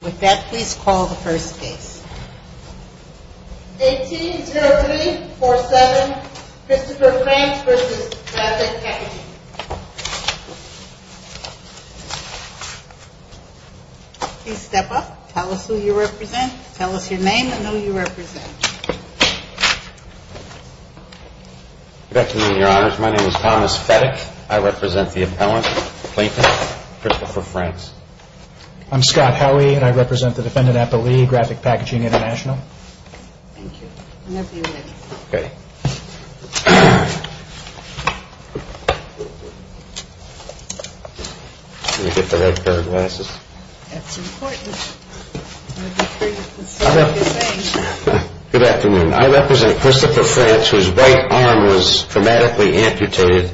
With that, please call the first case. 18-03-47, Christopher Franks v. Graphic Packaging. Please step up. Tell us who you represent. Tell us your name and who you represent. Good afternoon, Your Honors. My name is Thomas Fetick. I represent the appellant, Clayton, Christopher Franks. I'm Scott Howey, and I represent the defendant, Applee, Graphic Packaging lnt'l. Thank you. Whenever you're ready. Okay. Can you get the right pair of glasses? That's important. Good afternoon. I represent Christopher Franks, whose right arm was traumatically amputated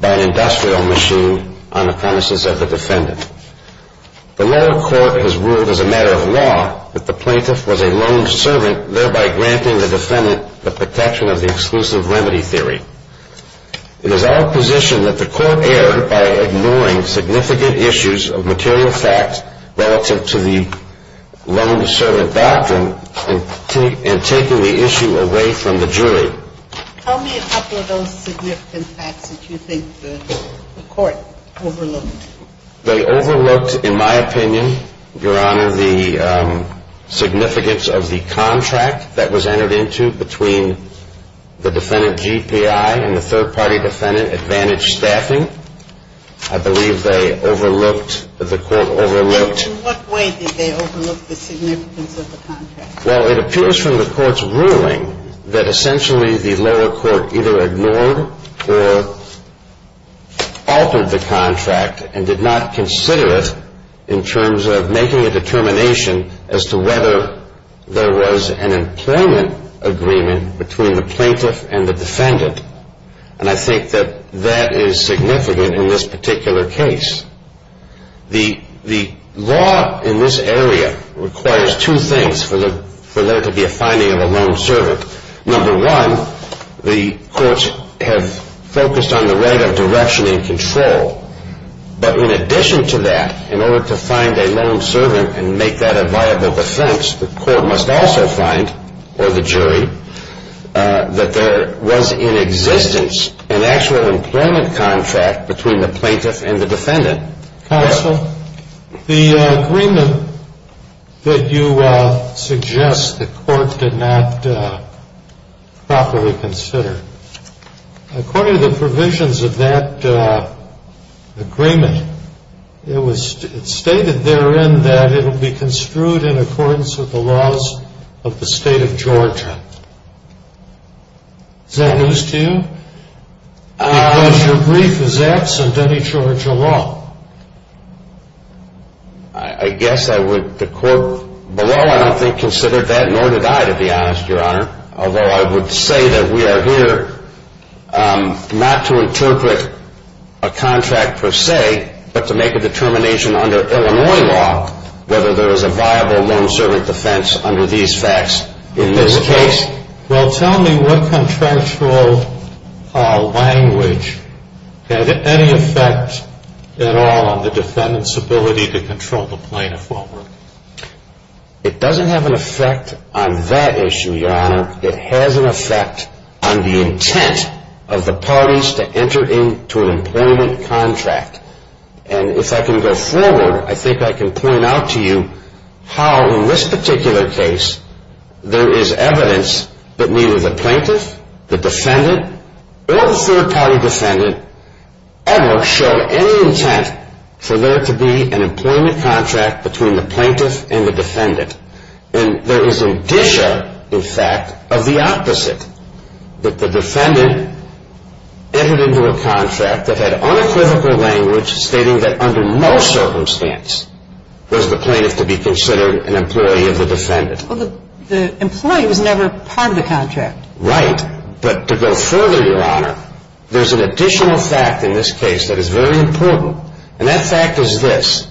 by an industrial machine on the premises of the defendant. The lower court has ruled as a matter of law that the plaintiff was a lone servant, thereby granting the defendant the protection of the exclusive remedy theory. It is our position that the court err by ignoring significant issues of material facts relative to the lone servant doctrine and taking the issue away from the jury. Tell me a couple of those significant facts that you think the court overlooked. They overlooked, in my opinion, Your Honor, the significance of the contract that was entered into between the defendant, GPI, and the third-party defendant, Advantage Staffing. I believe they overlooked, the court overlooked. In what way did they overlook the significance of the contract? Well, it appears from the court's ruling that essentially the lower court either ignored or altered the contract and did not consider it in terms of making a determination as to whether there was an employment agreement between the plaintiff and the defendant. And I think that that is significant in this particular case. The law in this area requires two things for there to be a finding of a lone servant. Number one, the courts have focused on the right of direction and control. But in addition to that, in order to find a lone servant and make that a viable defense, the court must also find, or the jury, that there was in existence an actual employment contract between the plaintiff and the defendant. Counsel, the agreement that you suggest the court did not properly consider, according to the provisions of that agreement, it was stated therein that it will be construed in accordance with the laws of the state of Georgia. Is that news to you? Because your brief is absent any Georgia law. I guess I would, the court below I don't think considered that, nor did I, to be honest, Your Honor. Although I would say that we are here not to interpret a contract per se, but to make a determination under Illinois law whether there is a viable lone servant defense under these facts in this case. Well, tell me what contractual language had any effect at all on the defendant's ability to control the plaintiff over? It doesn't have an effect on that issue, Your Honor. It has an effect on the intent of the parties to enter into an employment contract. And if I can go forward, I think I can point out to you how, in this particular case, there is evidence that neither the plaintiff, the defendant, or the third party defendant ever showed any intent for there to be an employment contract between the plaintiff and the defendant. And there is indicia, in fact, of the opposite, that the defendant entered into a contract that had unequivocal language stating that under no circumstance was the plaintiff to be considered an employee of the defendant. Well, the employee was never part of the contract. Right. But to go further, Your Honor, there's an additional fact in this case that is very important. And that fact is this.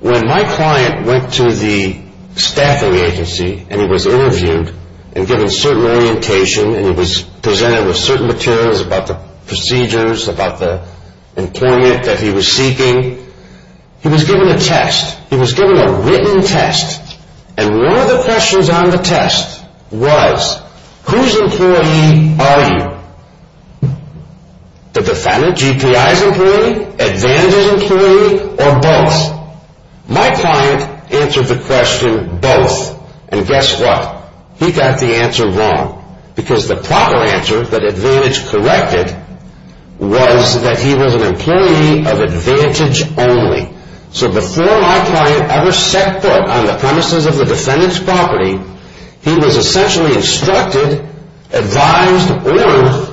When my client went to the staffing agency and he was interviewed and given certain orientation and he was presented with certain materials about the procedures, about the employment that he was seeking, he was given a test. He was given a written test. And one of the questions on the test was, whose employee are you? The defendant, GPI's employee, Advantage's employee, or both? My client answered the question, both. And guess what? He got the answer wrong. Because the proper answer that Advantage corrected was that he was an employee of Advantage only. So before my client ever set foot on the premises of the defendant's property, he was essentially instructed, advised, warned,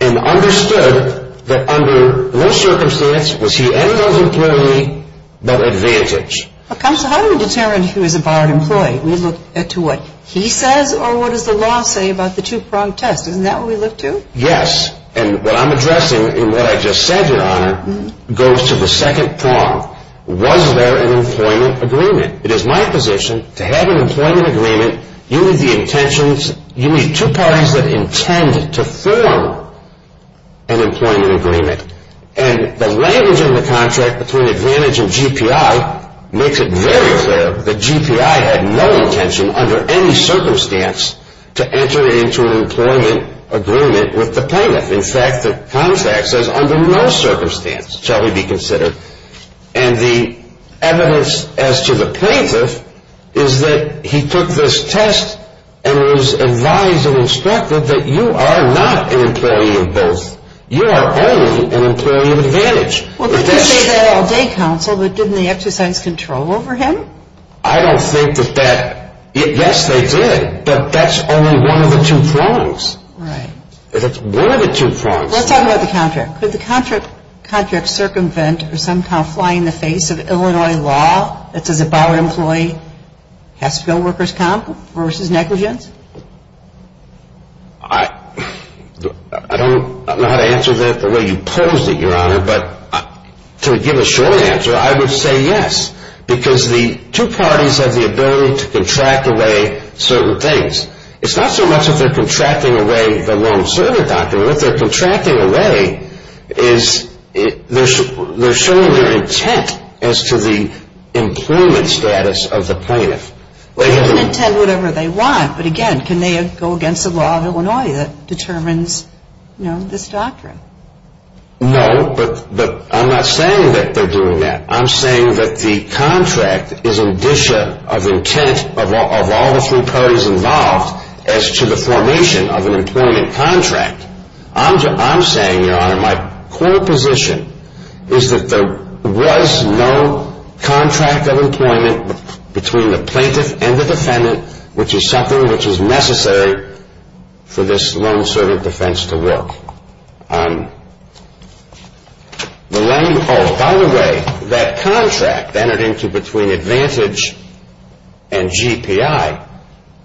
and understood that under no circumstance was he any of those employees but Advantage. Counsel, how do we determine who is a borrowed employee? We look at to what he says or what does the law say about the two-prong test? Isn't that what we look to? Yes. And what I'm addressing in what I just said, Your Honor, goes to the second prong. Was there an employment agreement? It is my position to have an employment agreement, you need the intentions, you need two parties that intend to form an employment agreement. And the language in the contract between Advantage and GPI makes it very clear that GPI had no intention under any circumstance to enter into an employment agreement with the plaintiff. In fact, the contract says under no circumstance shall he be considered. And the evidence as to the plaintiff is that he took this test and was advised and instructed that you are not an employee of both. You are only an employee of Advantage. Well, didn't he say that all day, Counsel, that didn't they exercise control over him? I don't think that that, yes, they did. But that's only one of the two prongs. Right. That's one of the two prongs. Let's talk about the contract. Could the contract circumvent or somehow fly in the face of Illinois law that says if our employee has to go workers' comp versus negligence? I don't know how to answer that the way you posed it, Your Honor. But to give a short answer, I would say yes. Because the two parties have the ability to contract away certain things. It's not so much if they're contracting away the loan-serving doctrine. What they're contracting away is they're showing their intent as to the employment status of the plaintiff. They can intend whatever they want. But, again, can they go against the law of Illinois that determines, you know, this doctrine? No, but I'm not saying that they're doing that. I'm saying that the contract is an addition of intent of all the three parties involved as to the formation of an employment contract. I'm saying, Your Honor, my core position is that there was no contract of employment between the plaintiff and the defendant, which is something which is necessary for this loan-serving defense to work. By the way, that contract entered into between Advantage and GPI,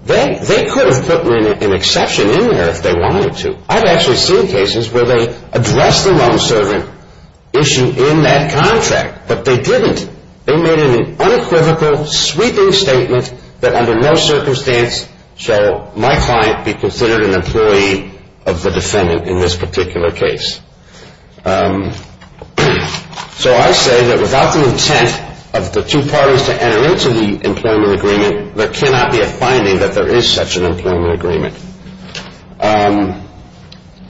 they could have put an exception in there if they wanted to. I've actually seen cases where they addressed the loan-serving issue in that contract, but they didn't. They made an unequivocal sweeping statement that under no circumstance shall my client be considered an employee of the defendant in this particular case. So I say that without the intent of the two parties to enter into the employment agreement, there cannot be a finding that there is such an employment agreement. Counsel,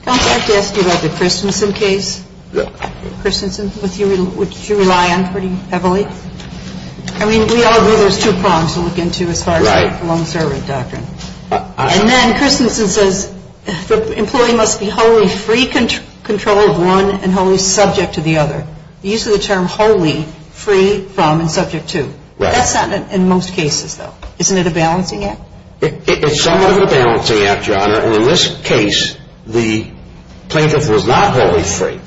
I have to ask you about the Christensen case. Christensen, which you rely on pretty heavily. I mean, we all agree there's two prongs to look into as far as the loan-serving doctrine. And then Christensen says the employee must be wholly free control of one and wholly subject to the other. The use of the term wholly, free from, and subject to, that's not in most cases, though. Isn't it a balancing act? It's somewhat of a balancing act, Your Honor. And in this case, the plaintiff was not wholly free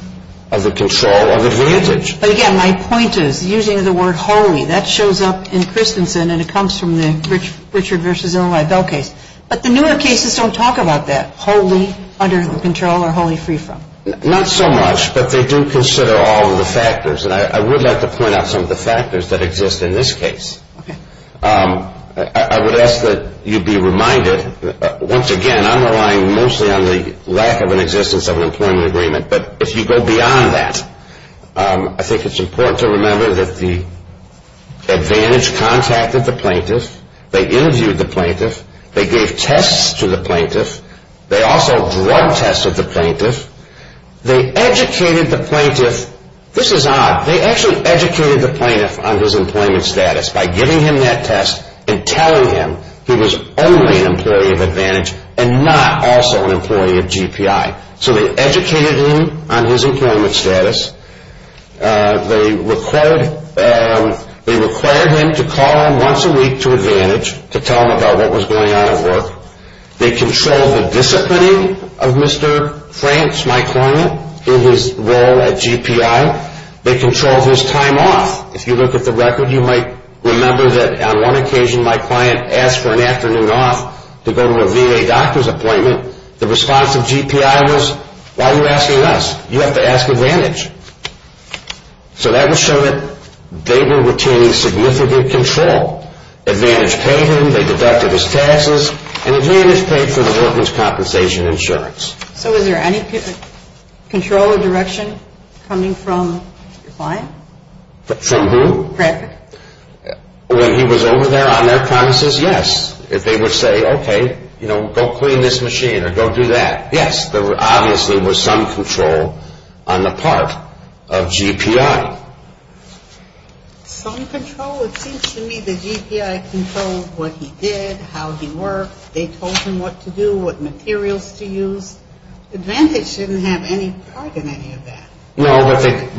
of the control of Advantage. But, again, my point is, using the word wholly, that shows up in Christensen, and it comes from the Richard v. Illinois Bell case. But the newer cases don't talk about that, wholly under control or wholly free from. Not so much, but they do consider all of the factors. And I would like to point out some of the factors that exist in this case. Okay. I would ask that you be reminded, once again, I'm relying mostly on the lack of an existence of an employment agreement. But if you go beyond that, I think it's important to remember that the Advantage contacted the plaintiff. They interviewed the plaintiff. They gave tests to the plaintiff. They also drug tested the plaintiff. They educated the plaintiff. This is odd. They actually educated the plaintiff on his employment status by giving him that test and telling him he was only an employee of Advantage and not also an employee of GPI. So they educated him on his employment status. They required him to call him once a week to Advantage to tell him about what was going on at work. They controlled the disciplining of Mr. Franks, my client, in his role at GPI. They controlled his time off. If you look at the record, you might remember that on one occasion my client asked for an afternoon off to go to a VA doctor's appointment. The response of GPI was, why are you asking us? You have to ask Advantage. So that would show that they were retaining significant control. Advantage paid him. They deducted his taxes. And Advantage paid for the workman's compensation insurance. So was there any control or direction coming from your client? From who? Bradford. When he was over there on their promises, yes. They would say, okay, go clean this machine or go do that. Yes, there obviously was some control on the part of GPI. Some control? It seems to me that GPI controlled what he did, how he worked. They told him what to do, what materials to use. Advantage didn't have any part in any of that. No,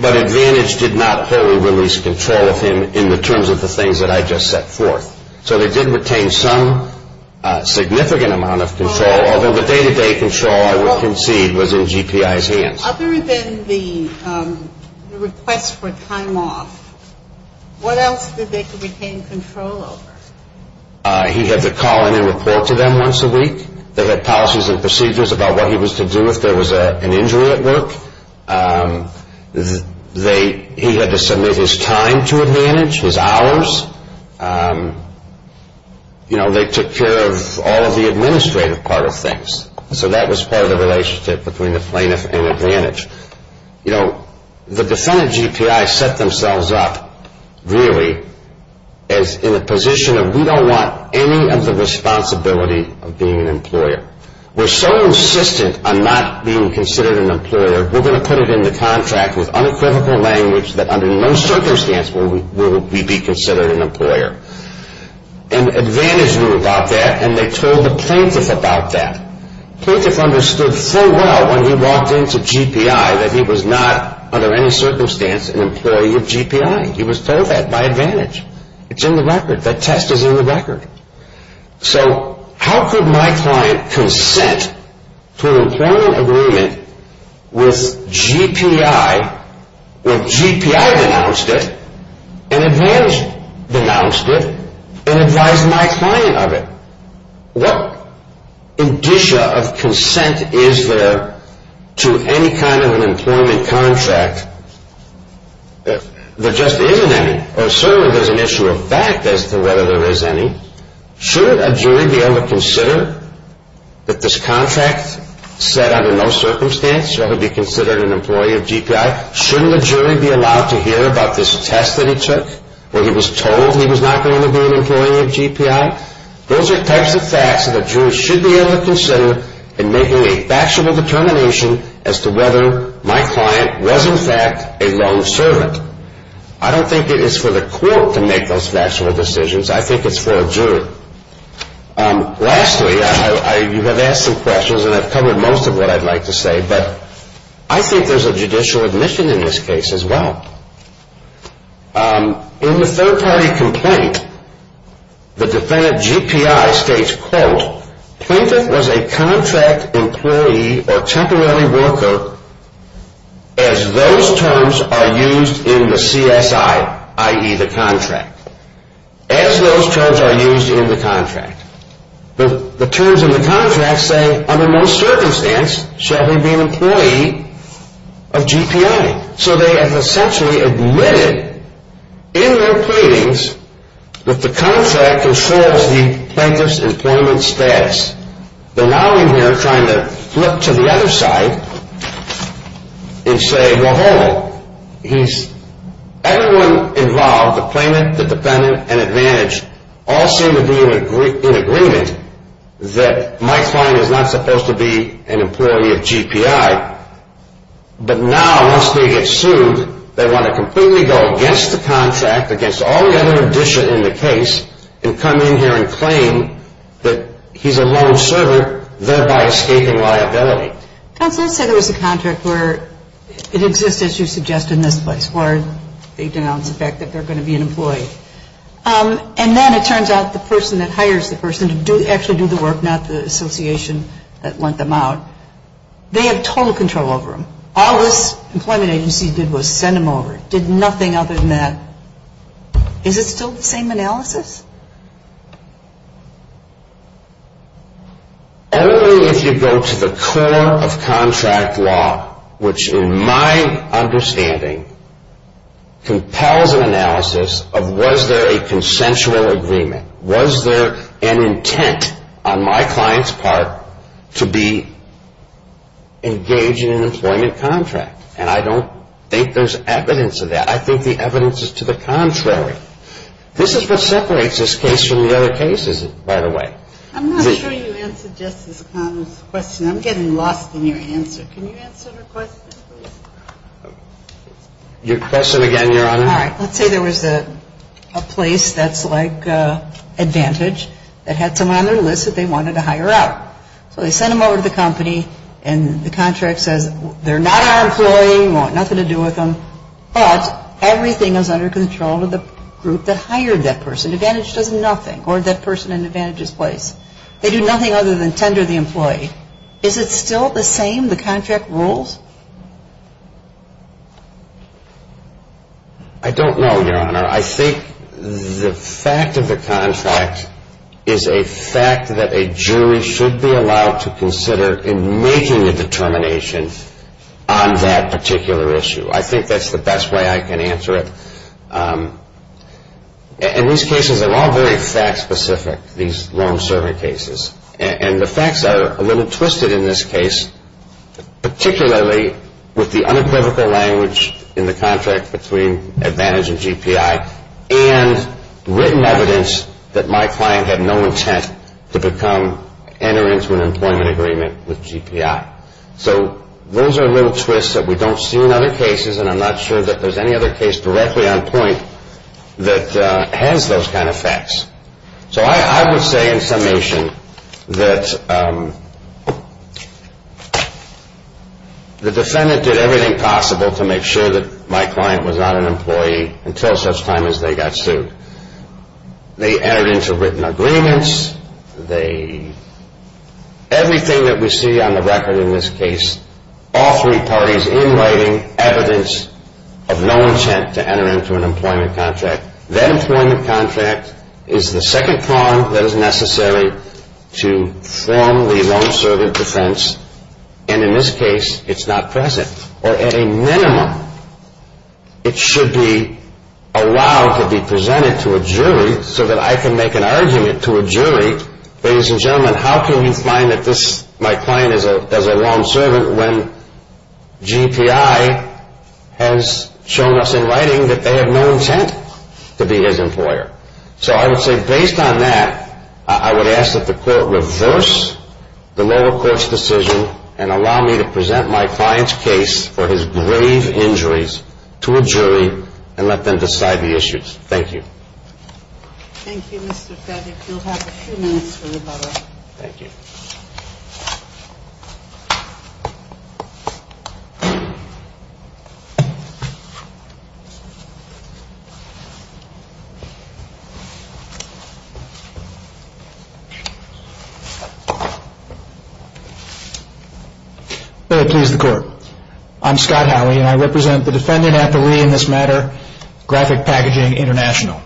but Advantage did not wholly release control of him in the terms of the things that I just set forth. So they did retain some significant amount of control, although the day-to-day control I would concede was in GPI's hands. Other than the request for time off, what else did they retain control over? He had to call in and report to them once a week. They had policies and procedures about what he was to do if there was an injury at work. He had to submit his time to Advantage, his hours. You know, they took care of all of the administrative part of things. So that was part of the relationship between the plaintiff and Advantage. You know, the defendant GPI set themselves up, really, as in a position of we don't want any of the responsibility of being an employer. We're so insistent on not being considered an employer, we're going to put it in the contract with unequivocal language that under no circumstance will we be considered an employer. And Advantage knew about that, and they told the plaintiff about that. The plaintiff understood full well when he walked into GPI that he was not under any circumstance an employee of GPI. He was told that by Advantage. It's in the record. That test is in the record. So how could my client consent to an employment agreement with GPI when GPI denounced it and Advantage denounced it and advised my client of it? What indicia of consent is there to any kind of an employment contract? There just isn't any. Or certainly there's an issue of fact as to whether there is any. Shouldn't a jury be able to consider that this contract said under no circumstance should he be considered an employee of GPI? Shouldn't a jury be allowed to hear about this test that he took where he was told he was not going to be an employee of GPI? Those are types of facts that a jury should be able to consider in making a factual determination as to whether my client was in fact a lone servant. I don't think it is for the court to make those factual decisions. I think it's for a jury. Lastly, you have asked some questions, and I've covered most of what I'd like to say, but I think there's a judicial admission in this case as well. In the third-party complaint, the defendant GPI states, quote, Plaintiff was a contract employee or temporary worker as those terms are used in the CSI, i.e., the contract. As those terms are used in the contract. The terms in the contract say under no circumstance shall he be an employee of GPI. So they have essentially admitted in their pleadings that the contract ensures the plaintiff's employment status. They're now in here trying to flip to the other side and say, well, hold on. Everyone involved, the plaintiff, the defendant, and advantage all seem to be in agreement that my client is not supposed to be an employee of GPI. But now, once they get sued, they want to completely go against the contract, against all the other addition in the case, and come in here and claim that he's a lone servant, thereby escaping liability. Counsel, you said there was a contract where it exists, as you suggested, in this place, where they denounce the fact that they're going to be an employee. And then it turns out the person that hires the person to actually do the work, not the association that lent them out, they have total control over them. All this employment agency did was send them over. It did nothing other than that. Is it still the same analysis? Only if you go to the core of contract law, which in my understanding compels an analysis of was there a consensual agreement. Was there an intent on my client's part to be engaged in an employment contract? And I don't think there's evidence of that. I think the evidence is to the contrary. This is what separates this case from the other cases, by the way. I'm not sure you answered Justice Connell's question. I'm getting lost in your answer. Can you answer her question, please? Your question again, Your Honor. All right. Let's say there was a place that's like Advantage that had someone on their list that they wanted to hire out. So they sent them over to the company, and the contract says they're not our employee, we want nothing to do with them. But everything is under control of the group that hired that person. Advantage does nothing, or that person in Advantage's place. They do nothing other than tender the employee. Is it still the same, the contract rules? I don't know, Your Honor. I think the fact of the contract is a fact that a jury should be allowed to consider in making a determination on that particular issue. I think that's the best way I can answer it. And these cases are all very fact-specific, these loan-serving cases. And the facts are a little twisted in this case, particularly with the unequivocal language in the contract between Advantage and GPI and written evidence that my client had no intent to enter into an employment agreement with GPI. So those are little twists that we don't see in other cases, and I'm not sure that there's any other case directly on point that has those kind of facts. So I would say in summation that the defendant did everything possible to make sure that my client was not an employee until such time as they got sued. They entered into written agreements. Everything that we see on the record in this case, all three parties in writing evidence of no intent to enter into an employment contract. That employment contract is the second prong that is necessary to form the loan-serving defense, and in this case, it's not present. Or at a minimum, it should be allowed to be presented to a jury so that I can make an argument to a jury, ladies and gentlemen, how can we find that my client is a loan-servant when GPI has shown us in writing that they have no intent to be his employer? So I would say based on that, I would ask that the court reverse the lower court's decision and allow me to present my client's case for his grave injuries to a jury and let them decide the issues. Thank you. Thank you, Mr. Feddick. You'll have a few minutes for rebuttal. Thank you. May it please the court. I'm Scott Howey, and I represent the defendant at the Lee in this matter, Graphic Packaging International.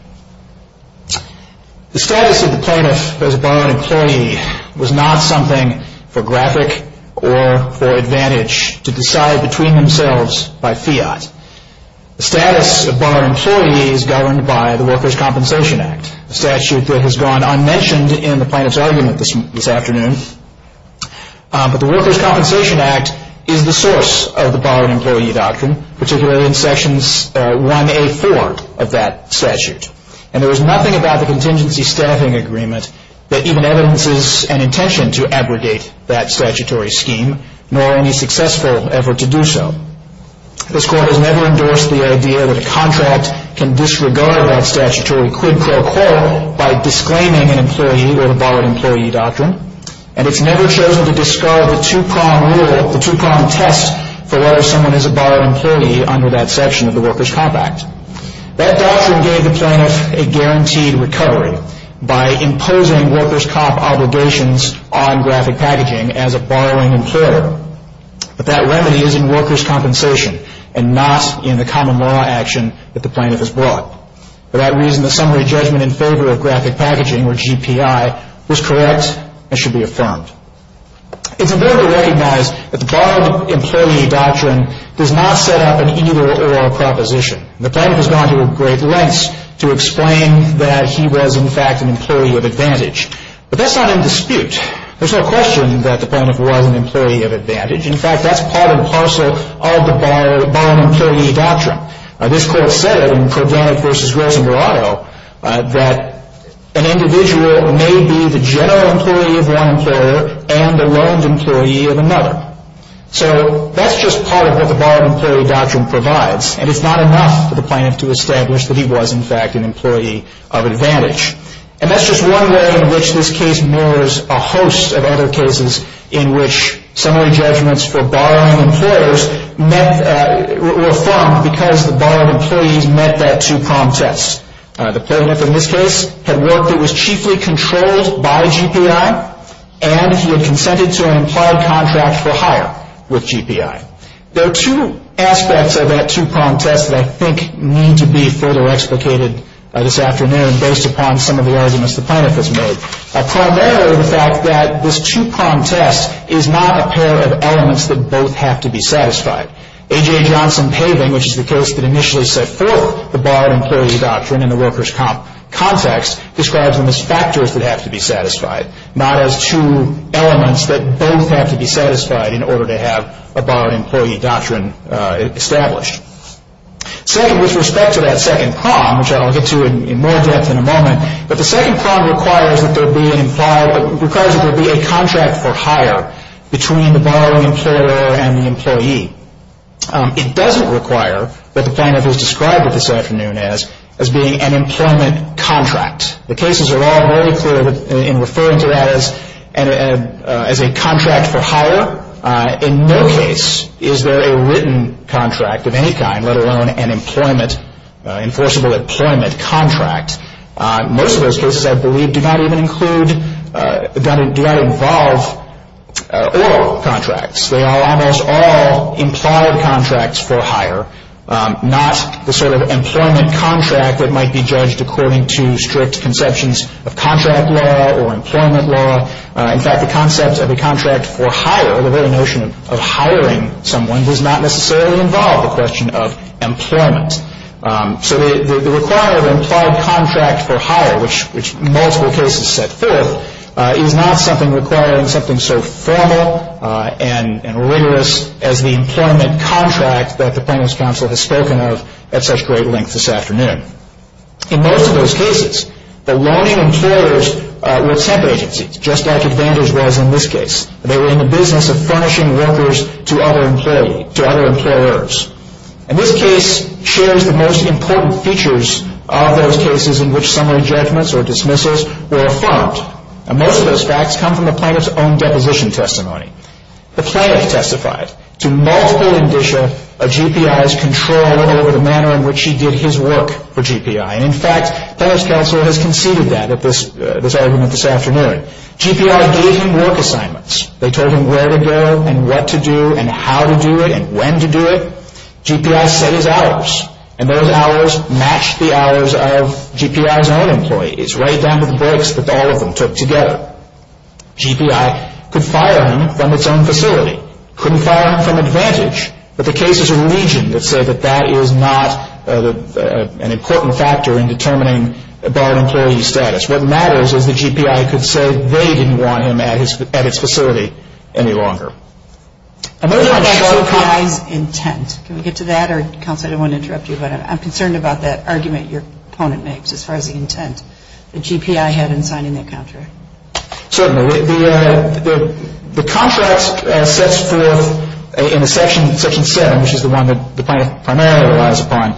The status of the plaintiff as a borrowed employee was not something for Graphic or for Advantage to decide between themselves by fiat. The status of borrowed employees governed by the Workers' Compensation Act, a statute that has gone unmentioned in the plaintiff's argument this afternoon. But the Workers' Compensation Act is the source of the borrowed employee doctrine, particularly in sections 1A.4 of that statute. And there was nothing about the contingency staffing agreement that even evidences an intention to abrogate that statutory scheme, nor any successful effort to do so. This court has never endorsed the idea that a contract can disregard that statutory quid pro quo by disclaiming an employee or a borrowed employee doctrine. And it's never chosen to discard the two-prong rule, the two-prong test, for whether someone is a borrowed employee under that section of the Workers' Comp Act. That doctrine gave the plaintiff a guaranteed recovery by imposing workers' comp obligations on Graphic Packaging as a borrowing employer. But that remedy is in workers' compensation and not in the common law action that the plaintiff has brought. For that reason, the summary judgment in favor of Graphic Packaging, or GPI, was correct and should be affirmed. It's important to recognize that the borrowed employee doctrine does not set up an either-or proposition. The plaintiff has gone to great lengths to explain that he was, in fact, an employee of advantage. But that's not in dispute. There's no question that the plaintiff was an employee of advantage. In fact, that's part and parcel of the borrowed employee doctrine. This court said in Kodanyk v. Rosengrotto that an individual may be the general employee of one employer and a loaned employee of another. So that's just part of what the borrowed employee doctrine provides. And it's not enough for the plaintiff to establish that he was, in fact, an employee of advantage. And that's just one way in which this case mirrors a host of other cases in which summary judgments for borrowing employers were affirmed because the borrowed employees met that two-pronged test. The plaintiff in this case had worked that was chiefly controlled by GPI, and he had consented to an implied contract for hire with GPI. There are two aspects of that two-pronged test that I think need to be further explicated this afternoon based upon some of the arguments the plaintiff has made. Primarily the fact that this two-pronged test is not a pair of elements that both have to be satisfied. A.J. Johnson-Paving, which is the case that initially set forth the borrowed employee doctrine in the workers' comp context, describes them as factors that have to be satisfied, not as two elements that both have to be satisfied in order to have a borrowed employee doctrine established. Second, with respect to that second prong, which I'll get to in more depth in a moment, but the second prong requires that there be a contract for hire between the borrowing employer and the employee. It doesn't require that the plaintiff is described this afternoon as being an employment contract. The cases are all very clear in referring to that as a contract for hire. In no case is there a written contract of any kind, let alone an enforceable employment contract. Most of those cases, I believe, do not even include, do not involve oral contracts. They are almost all implied contracts for hire, not the sort of employment contract that might be judged according to strict conceptions of contract law or employment law. In fact, the concept of a contract for hire, the very notion of hiring someone, does not necessarily involve the question of employment. So the requirement of an implied contract for hire, which multiple cases set forth, is not something requiring something so formal and rigorous as the employment contract that the plaintiff's counsel has spoken of at such great length this afternoon. In most of those cases, the loaning employers were temp agencies, just like Advantage was in this case. They were in the business of furnishing workers to other employers. And this case shares the most important features of those cases in which summary judgments or dismissals were affirmed. And most of those facts come from the plaintiff's own deposition testimony. The plaintiff testified to multiple indicia of GPI's control over the manner in which he did his work for GPI. And in fact, plaintiff's counsel has conceded that at this argument this afternoon. GPI gave him work assignments. They told him where to go and what to do and how to do it and when to do it. GPI set his hours. And those hours matched the hours of GPI's own employee. It's right down to the breaks that all of them took together. GPI could fire him from its own facility. Couldn't fire him from Advantage. But the case is a region that said that that is not an important factor in determining a barred employee's status. What matters is that GPI could say they didn't want him at its facility any longer. And those are the shortcomings. What about GPI's intent? Can we get to that? Or counsel, I don't want to interrupt you, but I'm concerned about that argument your opponent makes as far as the intent that GPI had in signing that contract. Certainly. The contract sets forth in Section 7, which is the one that the plaintiff primarily relies upon,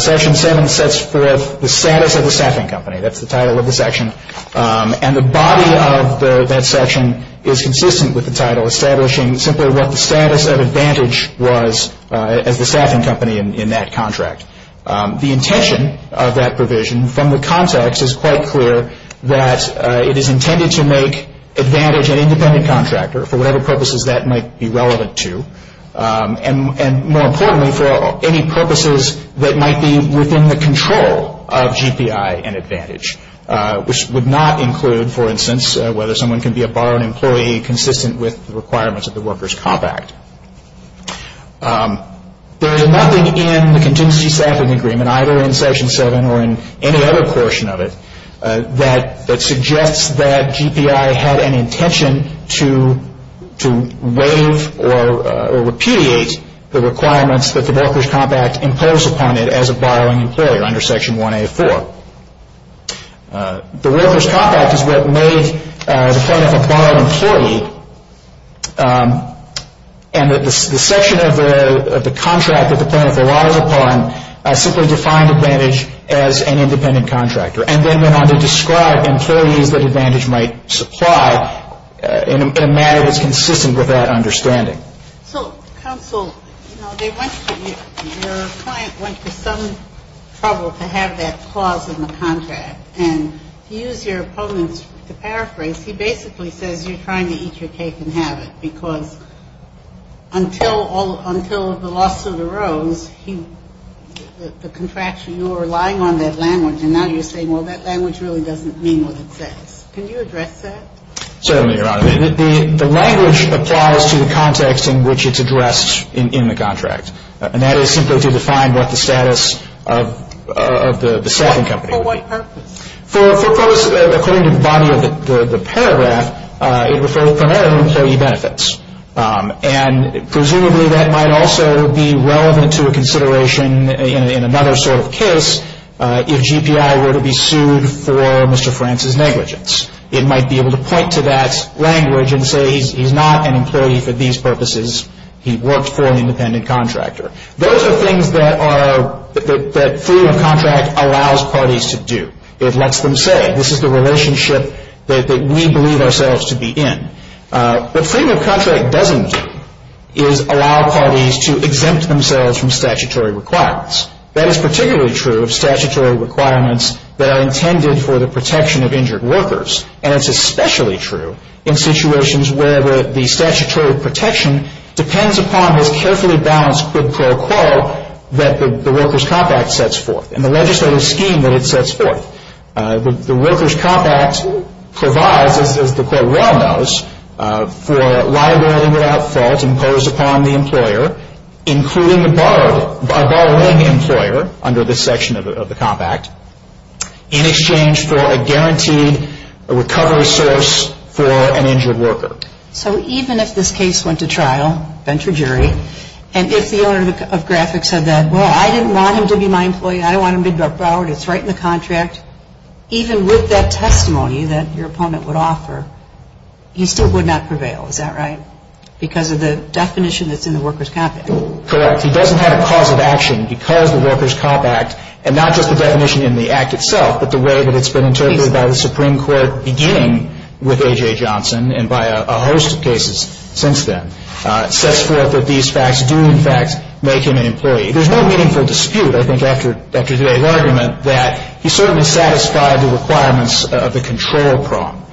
Section 7 sets forth the status of the staffing company. That's the title of the section. And the body of that section is consistent with the title, establishing simply what the status of Advantage was as the staffing company in that contract. The intention of that provision from the context is quite clear, that it is intended to make Advantage an independent contractor for whatever purposes that might be relevant to, and more importantly, for any purposes that might be within the control of GPI and Advantage, which would not include, for instance, whether someone can be a barred employee consistent with the requirements of the Workers' Comp Act. There is nothing in the contingency staffing agreement, either in Section 7 or in any other portion of it, that suggests that GPI had an intention to waive or repudiate the requirements that the Workers' Comp Act imposed upon it as a barring employer under Section 1A4. The Workers' Comp Act is what made the plaintiff a barred employee, and the section of the contract that the plaintiff relies upon simply defined Advantage as an independent contractor. And then they wanted to describe employees that Advantage might supply in a manner that's consistent with that understanding. So, counsel, you know, your client went to some trouble to have that clause in the contract, and to use your opponent's paraphrase, he basically says you're trying to eat your cake and have it, because until the lawsuit arose, the contraction, you were relying on that language, and now you're saying, well, that language really doesn't mean what it says. Can you address that? Certainly, Your Honor. The language applies to the context in which it's addressed in the contract, and that is simply to define what the status of the staffing company would be. For what purpose? For purpose, according to the body of the paragraph, it referred primarily to employee benefits, and presumably that might also be relevant to a consideration in another sort of case if GPI were to be sued for Mr. France's negligence. It might be able to point to that language and say he's not an employee for these purposes. He worked for an independent contractor. Those are things that Freedom of Contract allows parties to do. It lets them say, this is the relationship that we believe ourselves to be in. What Freedom of Contract doesn't do is allow parties to exempt themselves from statutory requirements. That is particularly true of statutory requirements that are intended for the protection of injured workers, and it's especially true in situations where the statutory protection depends upon this carefully balanced quid pro quo that the Workers' Comp Act sets forth and the legislative scheme that it sets forth. The Workers' Comp Act provides, as the court well knows, for liability without fault imposed upon the employer, including the borrowing employer under this section of the Comp Act, in exchange for a guaranteed recovery source for an injured worker. So even if this case went to trial, bench or jury, and if the owner of Graphic said that, well, I didn't want him to be my employee. I don't want him to be borrowed. It's right in the contract. Even with that testimony that your opponent would offer, he still would not prevail. Is that right? Because of the definition that's in the Workers' Comp Act. Correct. He doesn't have a cause of action because the Workers' Comp Act, and not just the definition in the Act itself but the way that it's been interpreted by the Supreme Court beginning with A.J. Johnson and by a host of cases since then, sets forth that these facts do, in fact, make him an employee. There's no meaningful dispute, I think, after today's argument, that he certainly satisfied the requirements of the control prong,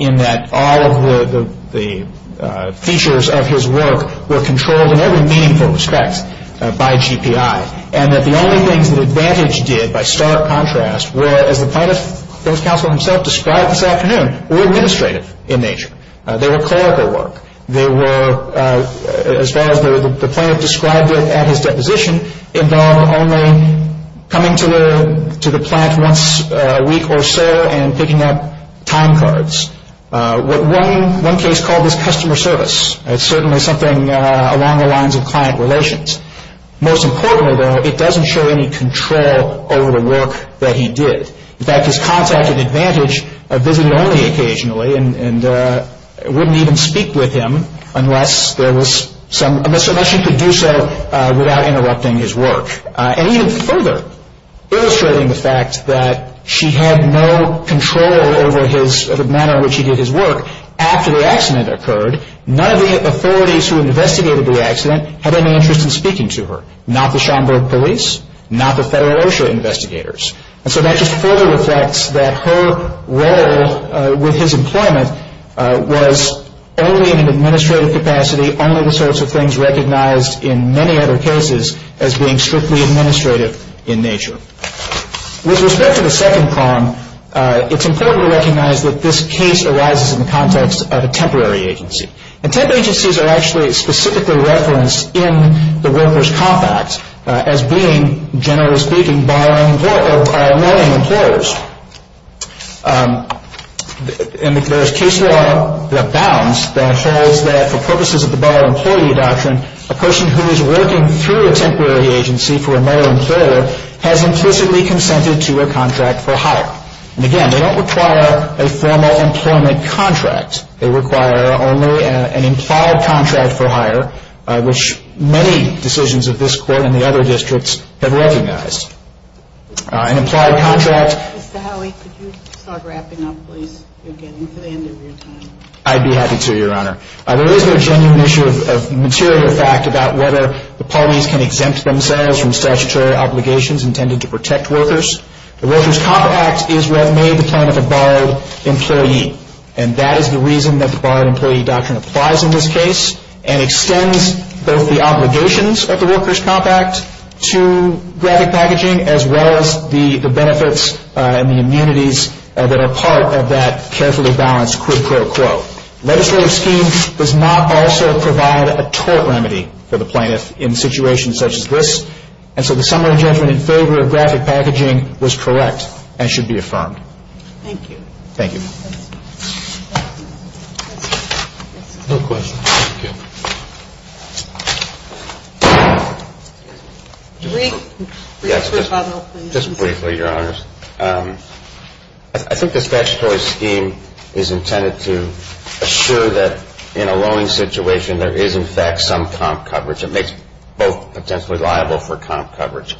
in that all of the features of his work were controlled in every meaningful respect by GPI, and that the only things that Advantage did, by stark contrast, were, as the plaintiff's counsel himself described this afternoon, were administrative in nature. They were clerical work. They were, as far as the plaintiff described it at his deposition, involved only coming to the plant once a week or so and picking up time cards. One case called this customer service. It's certainly something along the lines of client relations. Most importantly, though, it doesn't show any control over the work that he did. In fact, his contact at Advantage visited only occasionally and wouldn't even speak with him unless there was some, unless she could do so without interrupting his work. And even further, illustrating the fact that she had no control over his, the manner in which he did his work, after the accident occurred, none of the authorities who investigated the accident had any interest in speaking to her, not the Schomburg police, not the Federal OSHA investigators. And so that just further reflects that her role with his employment was only in an administrative capacity, only the sorts of things recognized in many other cases as being strictly administrative in nature. With respect to the second prong, it's important to recognize that this case arises in the context of a temporary agency. And temporary agencies are actually specifically referenced in the Workers' Comp Act as being, generally speaking, borrowing or knowing employers. And there is case law that bounds that holds that for purposes of the borrower-employee doctrine, a person who is working through a temporary agency for a known employer has implicitly consented to a contract for hire. And again, they don't require a formal employment contract. They require only an implied contract for hire, which many decisions of this Court and the other districts have recognized. An implied contract — Mr. Howey, could you start wrapping up, please, again, for the end of your time? I'd be happy to, Your Honor. There is no genuine issue of material fact about whether the parties can exempt themselves from statutory obligations intended to protect workers. The Workers' Comp Act is what made the plan of a borrowed employee. And that is the reason that the borrowed-employee doctrine applies in this case and extends both the obligations of the Workers' Comp Act to graphic packaging as well as the benefits and the immunities that are part of that carefully balanced quid pro quo. Legislative schemes does not also provide a tort remedy for the plaintiff in situations such as this. And so the summary judgment in favor of graphic packaging was correct and should be affirmed. Thank you. Thank you. No questions. Thank you. Just briefly, Your Honors. I think the statutory scheme is intended to assure that in a lowing situation there is, in fact, some comp coverage. It makes both potentially liable for comp coverage.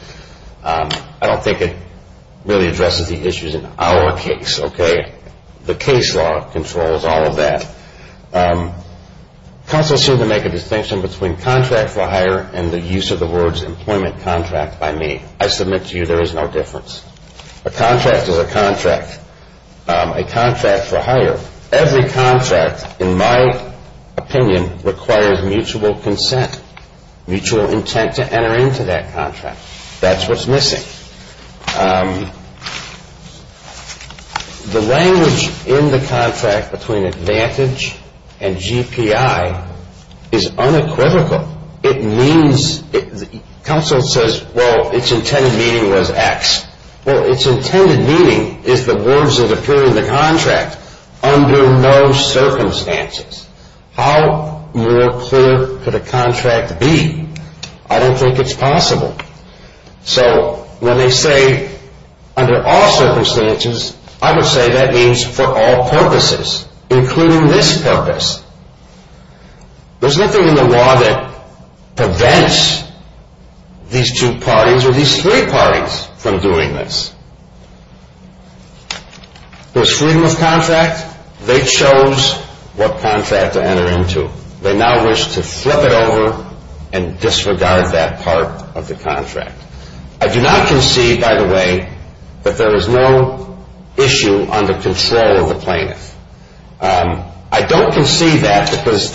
I don't think it really addresses the issues in our case, okay? The case law controls all of that. Counsels seem to make a distinction between contract for hire and the use of the words employment contract by me. I submit to you there is no difference. A contract is a contract, a contract for hire. Every contract, in my opinion, requires mutual consent, mutual intent to enter into that contract. That's what's missing. The language in the contract between advantage and GPI is unequivocal. It means, counsel says, well, its intended meaning was X. Well, its intended meaning is the words that appear in the contract under no circumstances. How more clear could a contract be? I don't think it's possible. So when they say under all circumstances, I would say that means for all purposes, including this purpose. There's nothing in the law that prevents these two parties or these three parties from doing this. There's freedom of contract. They chose what contract to enter into. They now wish to flip it over and disregard that part of the contract. I do not concede, by the way, that there is no issue under control of the plaintiff. I don't concede that because,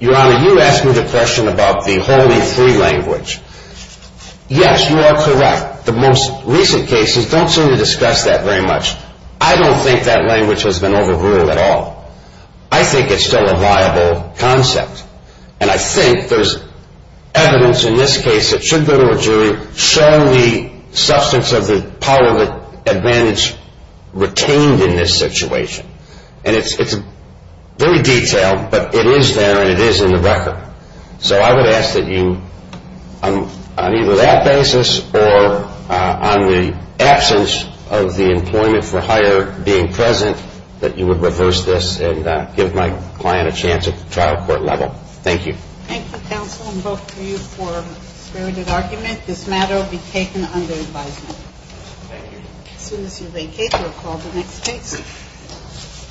Your Honor, you asked me the question about the holy three language. Yes, you are correct. The most recent cases don't seem to discuss that very much. I don't think that language has been overruled at all. I think it's still a viable concept, and I think there's evidence in this case that should go to a jury showing the substance of the power advantage retained in this situation. And it's very detailed, but it is there and it is in the record. So I would ask that you, on either that basis or on the absence of the employment for hire being present, that you would reverse this and give my client a chance at the trial court level. Thank you. Thank you, counsel, and both of you for a spirited argument. This matter will be taken under advisement. Thank you. As soon as you vacate, we'll call the next case.